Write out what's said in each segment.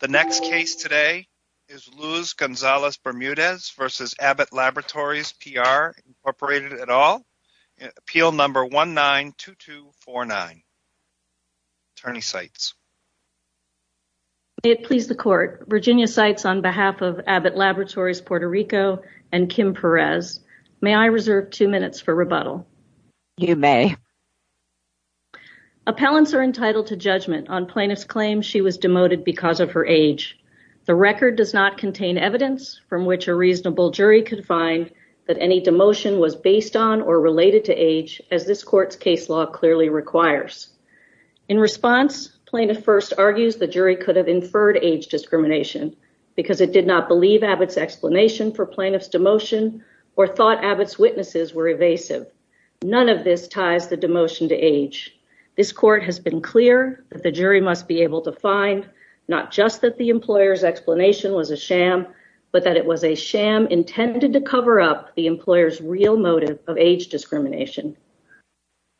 The next case today is Luz González-Bermudez v. Abbott Laboratories PR Inc. at all. Appeal number 192249. Attorney Seitz. May it please the court. Virginia Seitz on behalf of Abbott Laboratories Puerto Rico and Kim Perez. May I reserve two minutes for rebuttal? You may. Appellants are entitled to The record does not contain evidence from which a reasonable jury could find that any demotion was based on or related to age as this court's case law clearly requires. In response, plaintiff first argues the jury could have inferred age discrimination because it did not believe Abbott's explanation for plaintiff's demotion or thought Abbott's witnesses were evasive. None of this ties the demotion to age. This court has been clear that the jury must be able to find not just that the employer's explanation was a sham but that it was a sham intended to cover up the employer's real motive of age discrimination.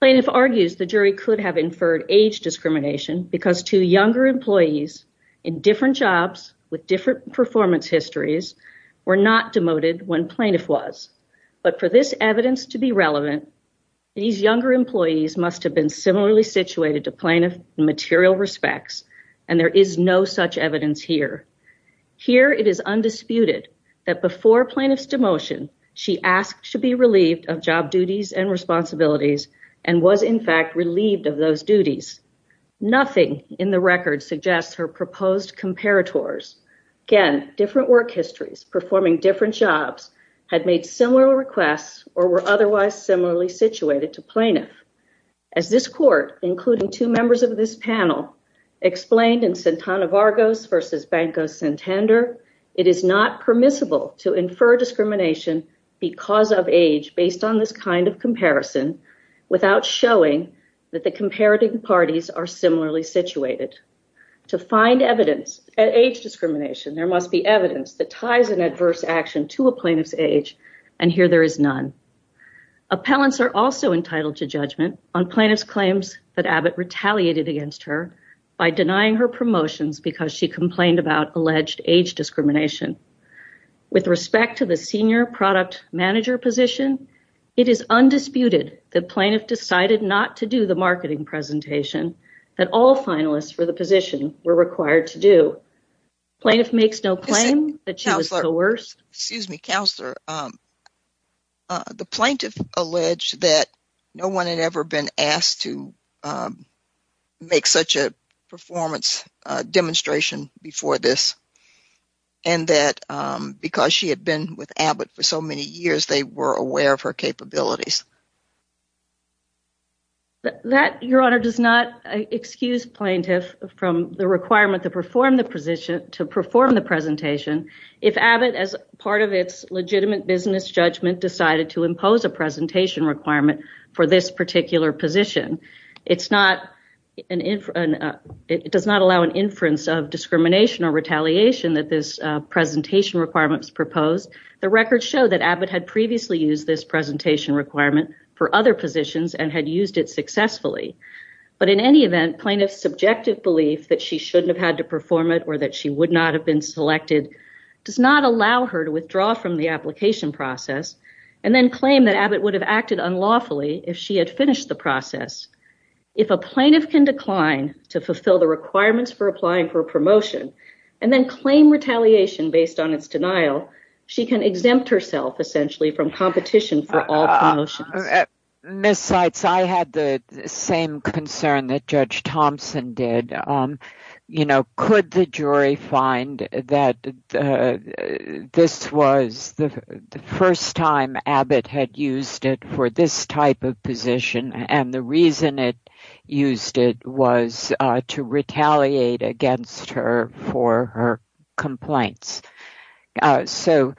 Plaintiff argues the jury could have inferred age discrimination because two younger employees in different jobs with different performance histories were not demoted when situated to material respects and there is no such evidence here. Here it is undisputed that before plaintiff's demotion she asked to be relieved of job duties and responsibilities and was in fact relieved of those duties. Nothing in the record suggests her proposed comparators. Again, different work histories performing different jobs had made similar requests or were otherwise similarly situated to plaintiff. As this court, including two members of this panel, explained in Santana Vargos versus Banco Santander, it is not permissible to infer discrimination because of age based on this kind of comparison without showing that the comparative parties are similarly situated. To find evidence at age discrimination there must be evidence that appellants are also entitled to judgment on plaintiff's claims that Abbott retaliated against her by denying her promotions because she complained about alleged age discrimination. With respect to the senior product manager position, it is undisputed that plaintiff decided not to do the marketing presentation that all finalists for the position were required to do. Plaintiff makes no claim that she was coerced. Excuse me, counselor. The plaintiff alleged that no one had ever been asked to make such a performance demonstration before this and that because she had been with Abbott for so many years they were aware of her capabilities. That, your honor, does not excuse plaintiff from the requirement to perform the presentation if Abbott, as part of its legitimate business judgment, decided to impose a presentation requirement for this particular position. It does not allow an inference of discrimination or retaliation that this presentation requirement is proposed. The records show that Abbott had previously used this presentation requirement for other positions and had used it successfully. But in any event, plaintiff's subjective belief that she shouldn't have had to perform it or that she would not have been selected does not allow her to withdraw from the application process and then claim that Abbott would have acted unlawfully if she had finished the process. If a plaintiff can decline to fulfill the requirements for applying for a promotion and then claim retaliation based on its denial, she can exempt herself essentially from competition for all promotions. Ms. Seitz, I had the same concern that Judge Thompson did. Could the jury find that this was the first time Abbott had used it for this type of position and the reason it used it was to retaliate against her for her complaints? So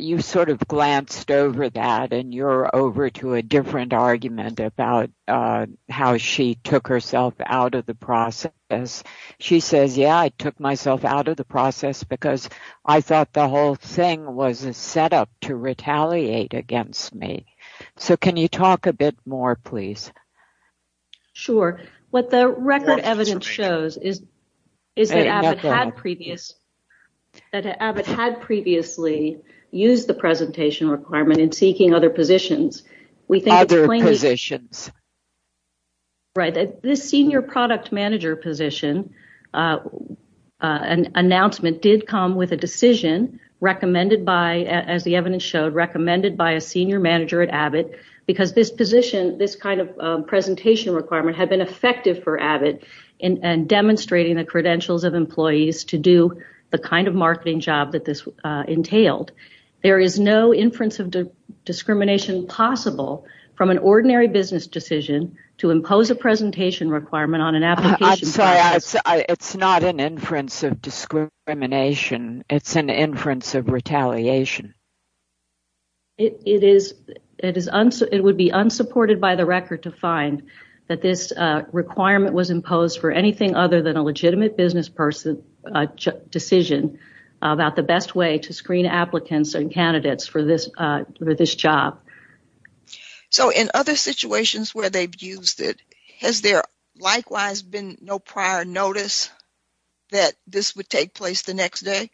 you sort of glanced over that and you're over to a different argument about how she took herself out of the process. She says, yeah, I took myself out of the process because I thought the whole thing was set up to retaliate against me. So can you talk a bit more, please? Sure. What the record evidence shows is that Abbott had previously used the presentation requirement in seeking other positions. This senior product manager position announcement did come with a decision recommended by, as the evidence showed, recommended by a senior manager at Abbott because this kind of presentation requirement had been effective for Abbott in demonstrating the credentials of employees to do the kind of marketing job that this entailed. There is no inference of discrimination possible from an ordinary business decision to impose a presentation requirement on an application. It's not an inference of discrimination. It's an inference of retaliation. It would be unsupported by the record to find that this requirement was imposed for anything other than a legitimate business decision about the best way to screen applicants and candidates for this job. In other situations where they've used it, has there likewise been no prior notice that this would take place the next day?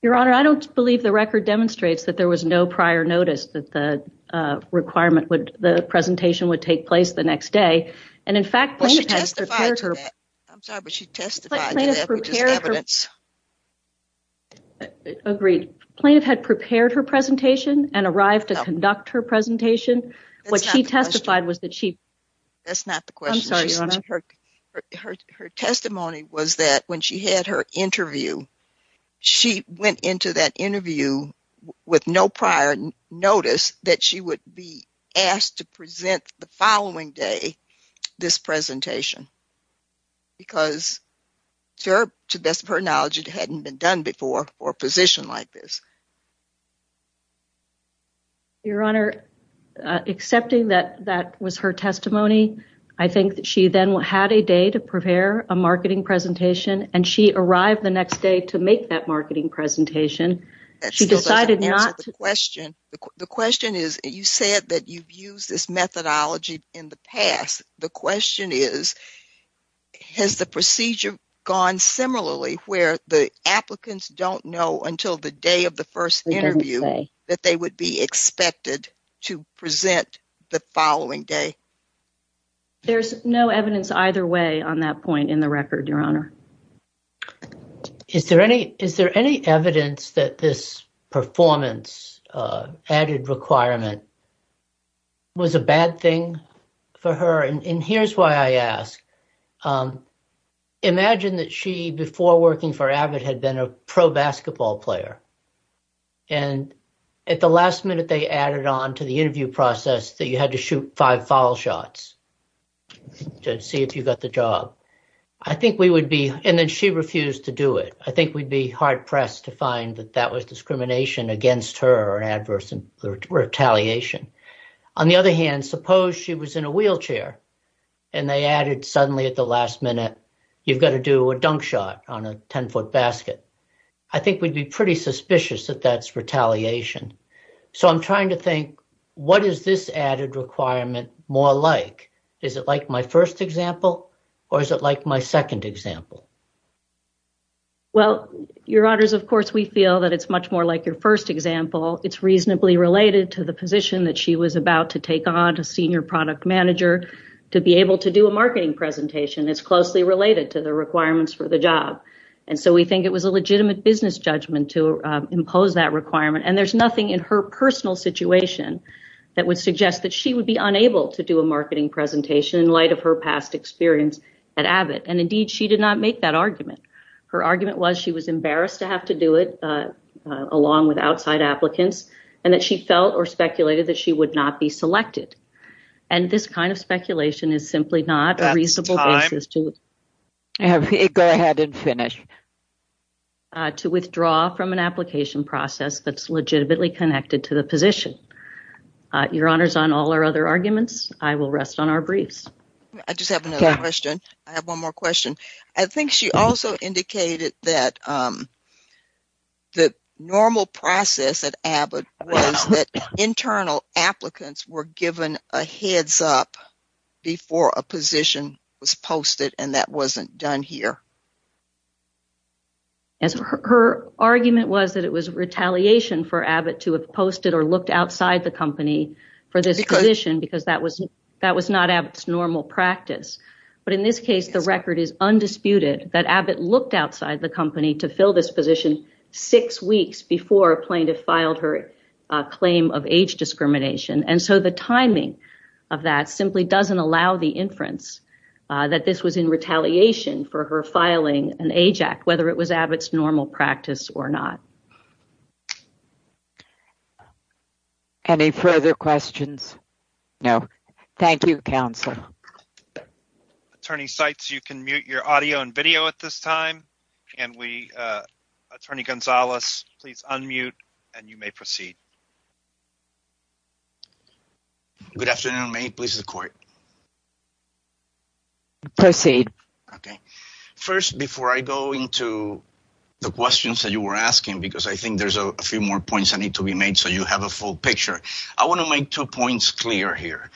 Your Honor, I don't believe the record demonstrates that there was no prior notice that the requirement would, the presentation would take place the next day. And in fact, she testified to that. I'm sorry, but she testified to that evidence. Agreed. Plaintiff had prepared her presentation and arrived to conduct her presentation. What she testified was that she. That's not the question. Her testimony was that when she had her interview, she went into that interview with no prior notice that she would be asked to present the following day this presentation. Because to her knowledge, it hadn't been done before or positioned like this. Your Honor, accepting that that was her testimony, I think that she then had a day to prepare a marketing presentation and she arrived the next day to make that marketing presentation. She decided not to. The question is, you said that you've used this methodology in the past. The question is, has the procedure gone similarly where the applicants don't know until the day of the first interview that they would be expected to present the following day? There's no evidence either way on that point in the record, Your Honor. Is there any, is there any evidence that this performance added requirement was a bad thing for her? And here's why I ask. Imagine that she, before working for AVID, had been a pro basketball player. And at the last minute, they added on to the interview process that you had to shoot five foul shots to see if you got the job. I think we would be, and then she refused to do it. I think we'd be hard pressed to find that that was discrimination against her or an adverse retaliation. On the other hand, suppose she was in a wheelchair and they added suddenly at the last minute, you've got to do a dunk shot on a 10-foot basket. I think we'd be pretty suspicious that that's retaliation. So I'm trying to think, what is this added requirement more like? Is it like my first example or is it like my second example? Well, Your Honors, of course, we feel that it's much more like your first example. It's reasonably related to the position that she was about to take on to senior product manager to be able to do a marketing presentation. It's closely related to the requirements for the job. And so we think it was a legitimate business judgment to impose that requirement. And there's nothing in her personal situation that would suggest that she would be unable to do a marketing presentation in light of her past experience at AVID. And indeed, she did not make that argument. Her argument was she was embarrassed to have to do it along with outside applicants and that she felt or speculated that she would not be selected. And this kind of speculation is simply not a reasonable basis to withdraw from an application process that's legitimately connected to the position. Your Honors, on all our other arguments, I will rest on our briefs. I just have another question. I have one more question. I think she also indicated that the normal process at AVID was that internal applicants were given a heads up before a position was posted and that wasn't done here. Yes, her argument was that it was retaliation for AVID to have posted or looked outside the company for this position because that was not AVID's normal practice. But in this case, the record is undisputed that AVID looked outside the company to fill this position six weeks before a plaintiff filed her claim of age discrimination. And so the timing of that simply doesn't allow the inference that this was in retaliation for her filing an AJAC, whether it was AVID's normal practice or not. Any further questions? No. Thank you, counsel. Attorney Seitz, you can mute your audio and video at this time. And Attorney Gonzalez, please unmute and you may proceed. Good afternoon. May it please the court? Proceed. Okay. First, before I go into the questions that you were asking, because I think there's a few more points that need to be made so you have a full picture, I want to make two points clear here.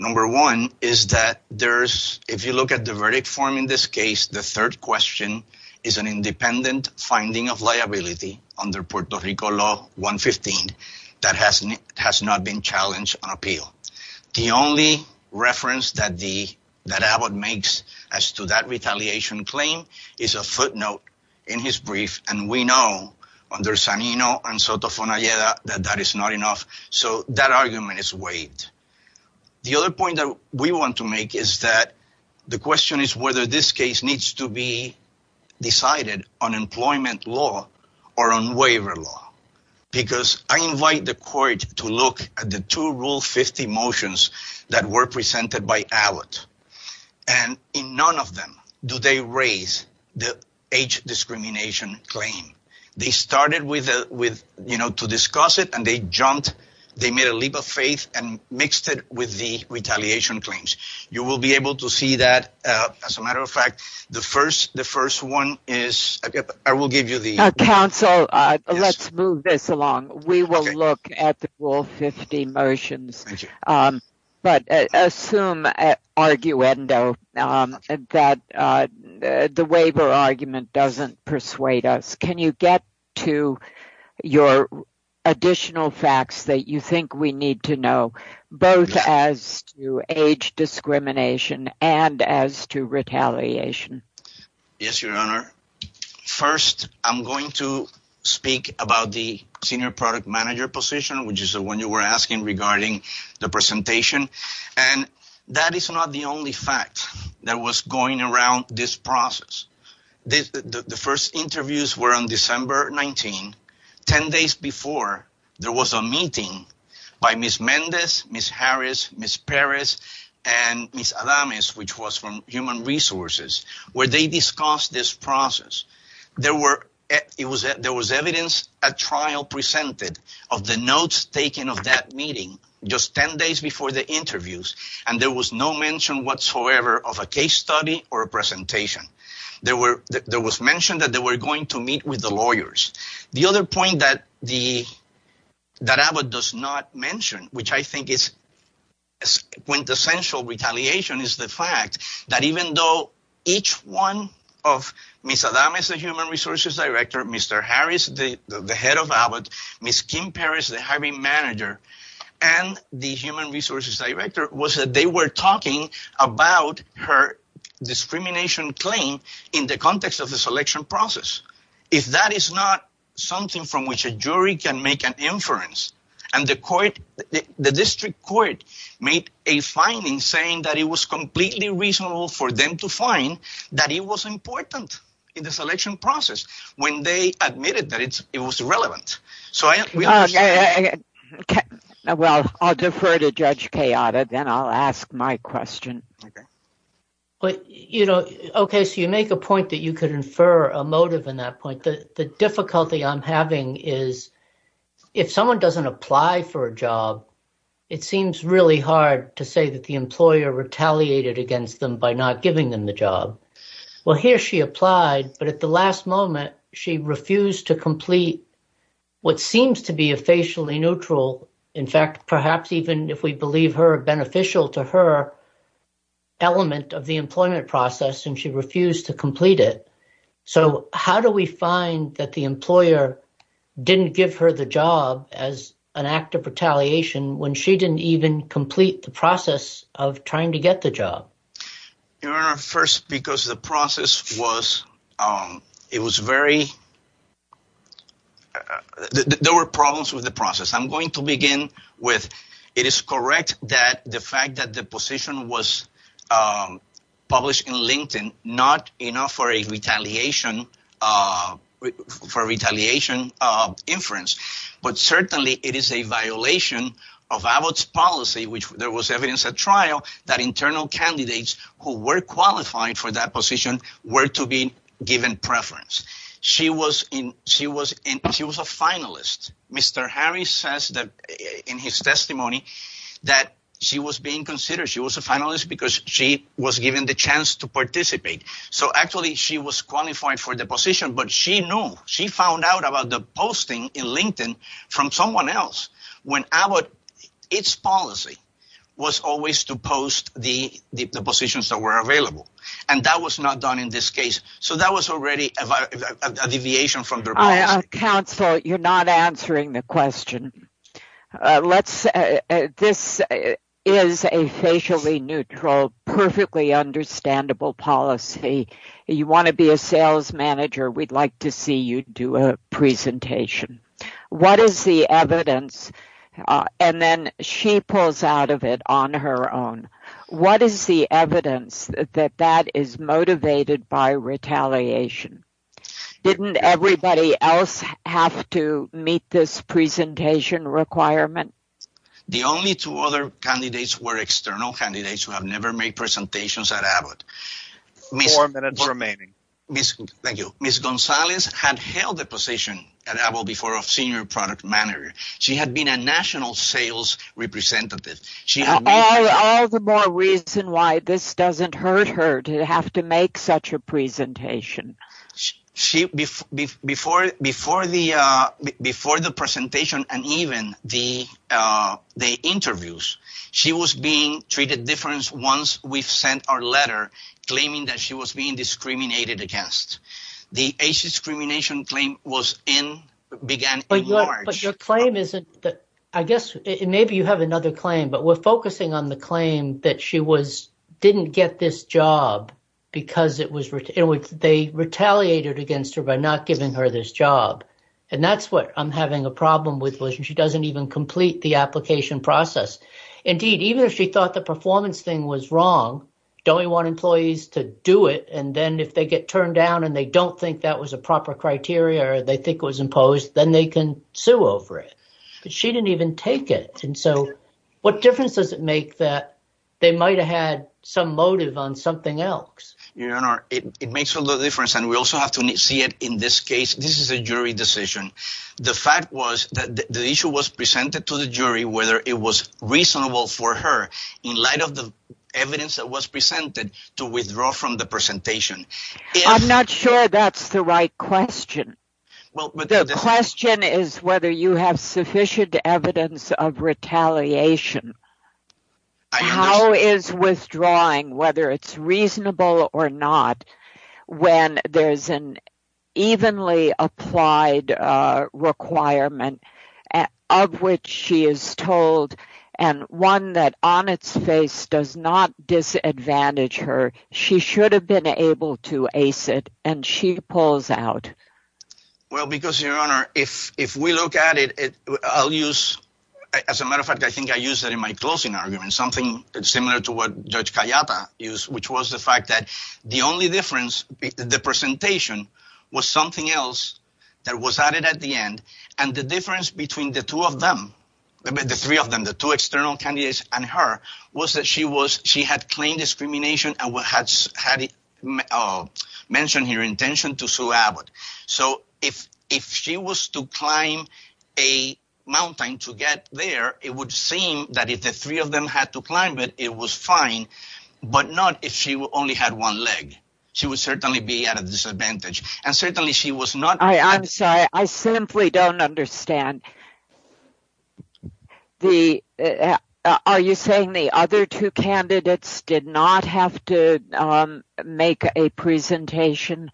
Number one is that if you look at the verdict form in this case, the third question is an independent finding of liability under Puerto Rico law 115 that has not been challenged on appeal. The only reference that AVID makes as to that retaliation claim is a footnote in his brief, and we know under Sanino and Sotofon Alleda that that is not enough. So that argument is waived. The other point that we want to make is that the question is whether this case needs to be decided on employment law or on waiver law. Because I invite the court to look at the two Rule 50 motions that were presented by AVID, and in none of them do they raise the age discrimination claim. They started with, you know, to discuss it and they jumped, they made a leap of faith and mixed it with the retaliation claims. You will be able to see that. As a matter of fact, the first one is, I will give you the... Let's move this along. We will look at the Rule 50 motions, but assume at arguendo that the waiver argument doesn't persuade us. Can you get to your additional facts that you think we need to know, both as to age discrimination and as to retaliation? Yes, Your Honor. First, I'm going to speak about the senior product manager position, which is the one you were asking regarding the presentation. And that is not the only fact that was going around this process. The first interviews were on December 19. Ten days before, there was a meeting by Ms. Mendez, Ms. Harris, Ms. Perez, and Ms. Adams, which was from Human Resources, where they discussed this process. There was evidence at trial presented of the notes taken of that meeting just ten days before the interviews, and there was no mention whatsoever of a case study or a presentation. There was mention that they were going to meet with the lawyers. The other point that even though each one of Ms. Adams, the Human Resources Director, Mr. Harris, the head of ABOT, Ms. Kim Perez, the hiring manager, and the Human Resources Director, was that they were talking about her discrimination claim in the context of the selection process. If that is not something from which a jury can make an inference, and the court, the district court, made a finding saying that it was completely reasonable for them to find that it was important in the selection process when they admitted that it was irrelevant. I'll defer to Judge Kayada, then I'll ask my question. Okay, so you make a point that you could infer a motive in that point. The difficulty I'm having is if someone doesn't apply for a job, it seems really hard to say that the employer retaliated against them by not giving them the job. Well, here she applied, but at the last moment, she refused to complete what seems to be a facially neutral, in fact, perhaps even if we believe her beneficial to her element of the employment process, and she refused to complete it. So how do we find that the employer didn't give her the job as an act of retaliation when she didn't even complete the process of trying to get the job? Your Honor, first, because the process was, it was very, there were problems with the process. I'm going to begin with, it is correct that the fact that the position was published in LinkedIn, not enough for a retaliation inference, but certainly it is a violation of Abbott's policy, which there was evidence at trial that internal candidates who were qualified for that position were to be given preference. She was a finalist. Mr. Harris says that in his testimony that she was being considered. She was a finalist because she was given the chance to participate. So actually, she was qualified for the position, but she knew, she found out about the posting in LinkedIn from someone else when Abbott, its policy was always to post the positions that were available, and that was not done in this case. So that was already a deviation from their policy. Counsel, you're not answering the question. This is a facially neutral, perfectly understandable policy. You want to be a sales manager, we'd like to see you do a presentation. What is the evidence, and then she pulls out of it on her own, what is the evidence that that is motivated by retaliation? Didn't everybody else have to meet this presentation requirement? The only two other candidates were external candidates who have never made presentations at Abbott. Four minutes remaining. Thank you. Ms. Gonzalez had held the position at Abbott before of senior product manager. She had been a national sales representative. All the more reason why this doesn't hurt her to have to make such a presentation. Before the presentation and even the interviews, she was being treated different once we've sent our letter claiming that she was being discriminated against. The discrimination claim isn't that, I guess, maybe you have another claim, but we're focusing on the claim that she didn't get this job because they retaliated against her by not giving her this job. That's what I'm having a problem with. She doesn't even complete the application process. Indeed, even if she thought the performance thing was wrong, don't we want employees to do it, and then if they get turned down and they don't think that was a proper criteria, they think it was imposed, then they can sue over it, but she didn't even take it. What difference does it make that they might have had some motive on something else? Your Honor, it makes a lot of difference, and we also have to see it in this case. This is a jury decision. The fact was that the issue was presented to the jury whether it was reasonable for her, in light of the evidence that was presented, to withdraw from the presentation. I'm not sure that's the right question. The question is whether you have sufficient evidence of retaliation. How is withdrawing, whether it's reasonable or not, when there's an evenly applied requirement of which she is told, and one that on its face does not disadvantage her, she should have been able to ace it, and she pulls out? Well, because, Your Honor, if we look at it, I'll use, as a matter of fact, I think I used that in my closing argument, something similar to what Judge Cayapa used, which was the fact that the only difference, the presentation, was something else that was added at the end, and the difference between the two of them, the three of them, the two external candidates and her, was that she had claimed discrimination and had mentioned her intention to sue Abbott. So, if she was to climb a mountain to get there, it would seem that if the three of them had to climb it, it was fine, but not if she only had one leg. She would certainly be at a disadvantage, and certainly she was not... I'm sorry, I simply don't understand. Are you saying the other two candidates did not have to make a presentation?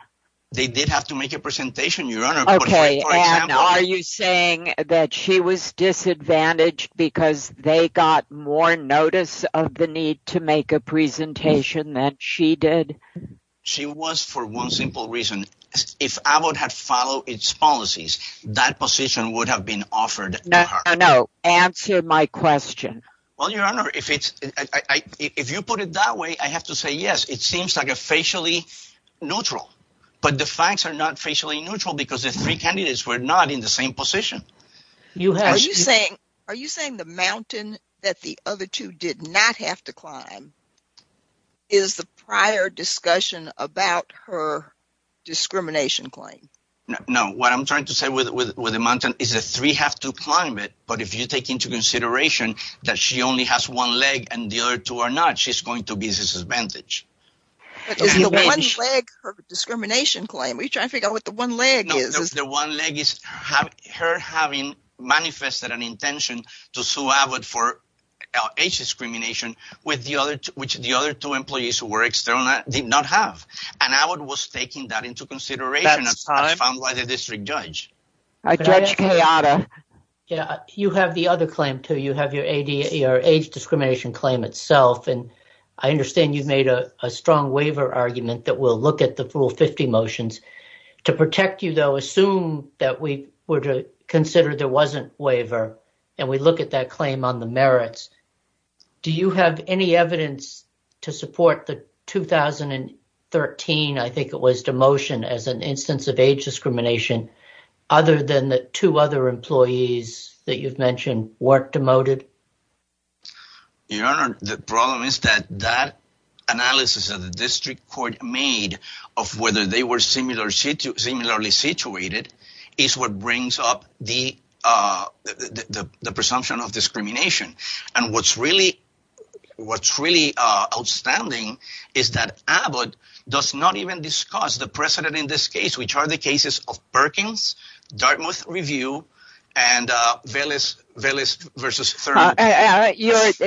They did have to make a presentation, Your Honor. Okay, and are you saying that she was disadvantaged because they got more notice of the need to make a presentation than she did? She was for one simple reason. If Abbott had followed its policies, that position would have been offered to her. No, answer my question. Well, Your Honor, if you put it that way, I have to say yes, it seems like a facially neutral, but the facts are not facially neutral because the three candidates were not in the same position. Are you saying the mountain that the other two did not have to climb is the prior discussion about her discrimination claim? No, what I'm trying to say with the mountain is that the three have to climb it, but if you take into consideration that she only has one leg and the other two are not, she's going to be at a disadvantage. But is the one leg her discrimination claim? Are you trying to figure out what the one leg is? The one leg is her having manifested an intention to sue Abbott for age discrimination, which the other two employees who were external did not have, and Abbott was taking that into consideration. I found by the district judge. You have the other claim, too. You have your age discrimination claim itself, and I understand you've made a strong waiver argument that will look at the full 50 motions. To protect you, though, assume that we were to consider there wasn't a waiver, and we look at that claim on the merits. Do you have any evidence to support the 2013, I think it was, demotion as an instance of age discrimination other than the two other employees that you've mentioned weren't demoted? Your Honor, the problem is that that analysis of the district court made of whether they were similarly situated is what brings up the presumption of discrimination. What's really outstanding is that Abbott does not even discuss the precedent in this case, which are the cases of Perkins, Dartmouth Review, and Velez v. Thurman.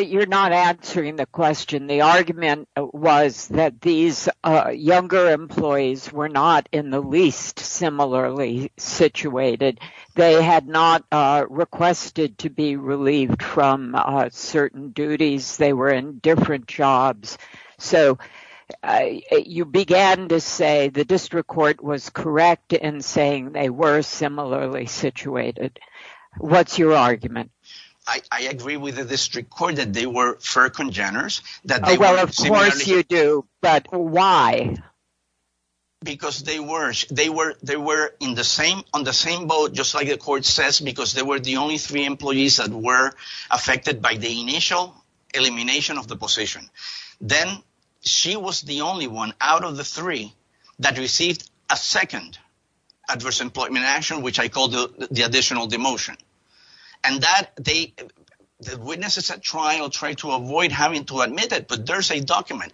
You're not answering the question. The argument was that these younger employees were not in the least similarly situated. They had not requested to be relieved from certain duties. They were in different jobs. So you began to say the district court was correct in saying they were similarly situated. What's your argument? I agree with the district court that they were fair congeners. Well, of course you do, but why? Because they were on the same boat, just like the court says, because they were the only three employees that were affected by the initial elimination of the position. Then she was the only one out of the three that received a second adverse employment action, which I call the additional demotion. And the witnesses at trial tried to avoid having to admit it, but there's a document,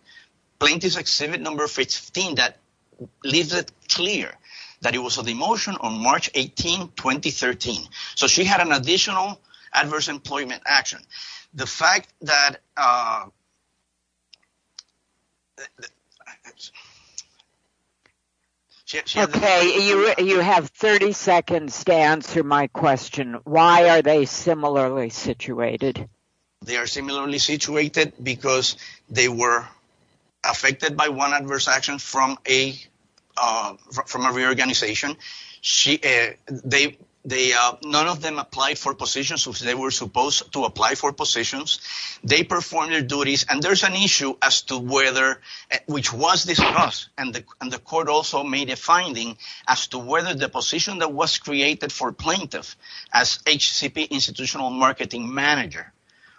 plaintiff's exhibit number 15, that leaves it clear that it was a demotion on March 18, 2013. So she had an additional adverse employment action. The fact that... Okay, you have 30 seconds to answer my question. Why are they similarly situated? They are similarly situated because they were affected by one adverse action from a reorganization. None of them applied for positions which they were supposed to apply for positions. They performed their duties. And there's an issue as to whether, which was discussed, and the court also made a finding as to whether the position that was created for plaintiff as HCP institutional marketing manager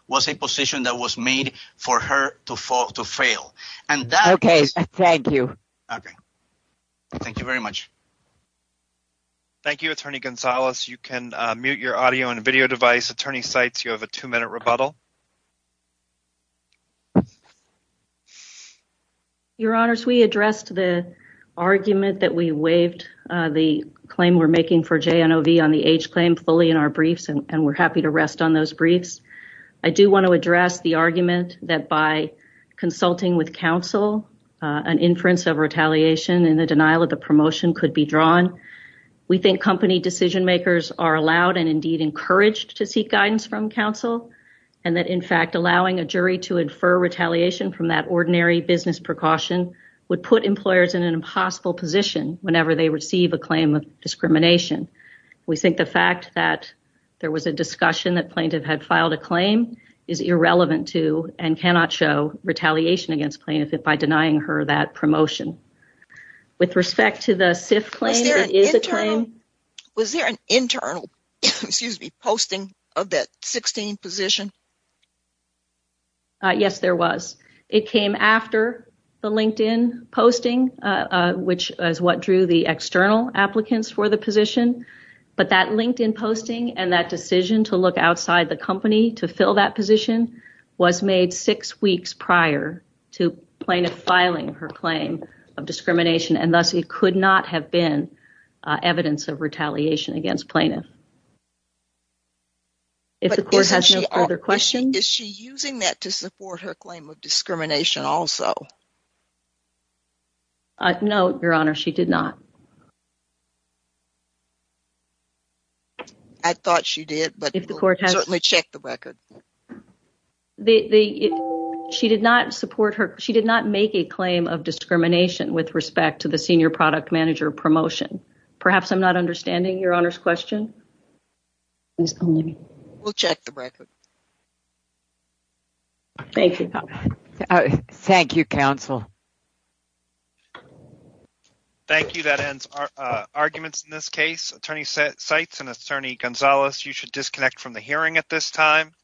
was a position that was made for her to fail. Okay, thank you. Thank you very much. Thank you, Attorney Gonzalez. You can mute your audio and video device. Attorney Seitz, you have a two-minute rebuttal. Your Honors, we addressed the argument that we waived the claim we're making for JNOV on the H claim fully in our briefs, and we're happy to rest on those briefs. I do want to address the argument that by consulting with counsel, an inference of retaliation in the denial of the promotion could be drawn. We think company decision-makers are allowed and indeed encouraged to seek guidance from counsel, and that in fact, allowing a jury to infer retaliation from that ordinary business precaution would put employers in an impossible position whenever they receive a claim of discrimination. We think the fact that there was a discussion that plaintiff had filed a claim is irrelevant to and cannot show retaliation against plaintiff by denying her that promotion. With respect to the SIF claim, it is a claim. Was there an internal posting of that 16 position? Yes, there was. It came after the LinkedIn posting, which is what drew the external applicants for the position, but that LinkedIn posting and that decision to look outside the company to fill that position was made six weeks prior to plaintiff filing her claim of discrimination, and thus it could not have been evidence of retaliation against plaintiff. Is she using that to support her claim of discrimination also? No, Your Honor, she did not. I thought she did, but certainly check the record. The she did not support her. She did not make a claim of discrimination with respect to the senior product manager promotion. Perhaps I'm not understanding Your Honor's question. We'll check the record. Thank you. Thank you, counsel. Thank you. That ends arguments in this case. Attorney Seitz and Attorney Gonzalez, you should disconnect from the hearing at this time.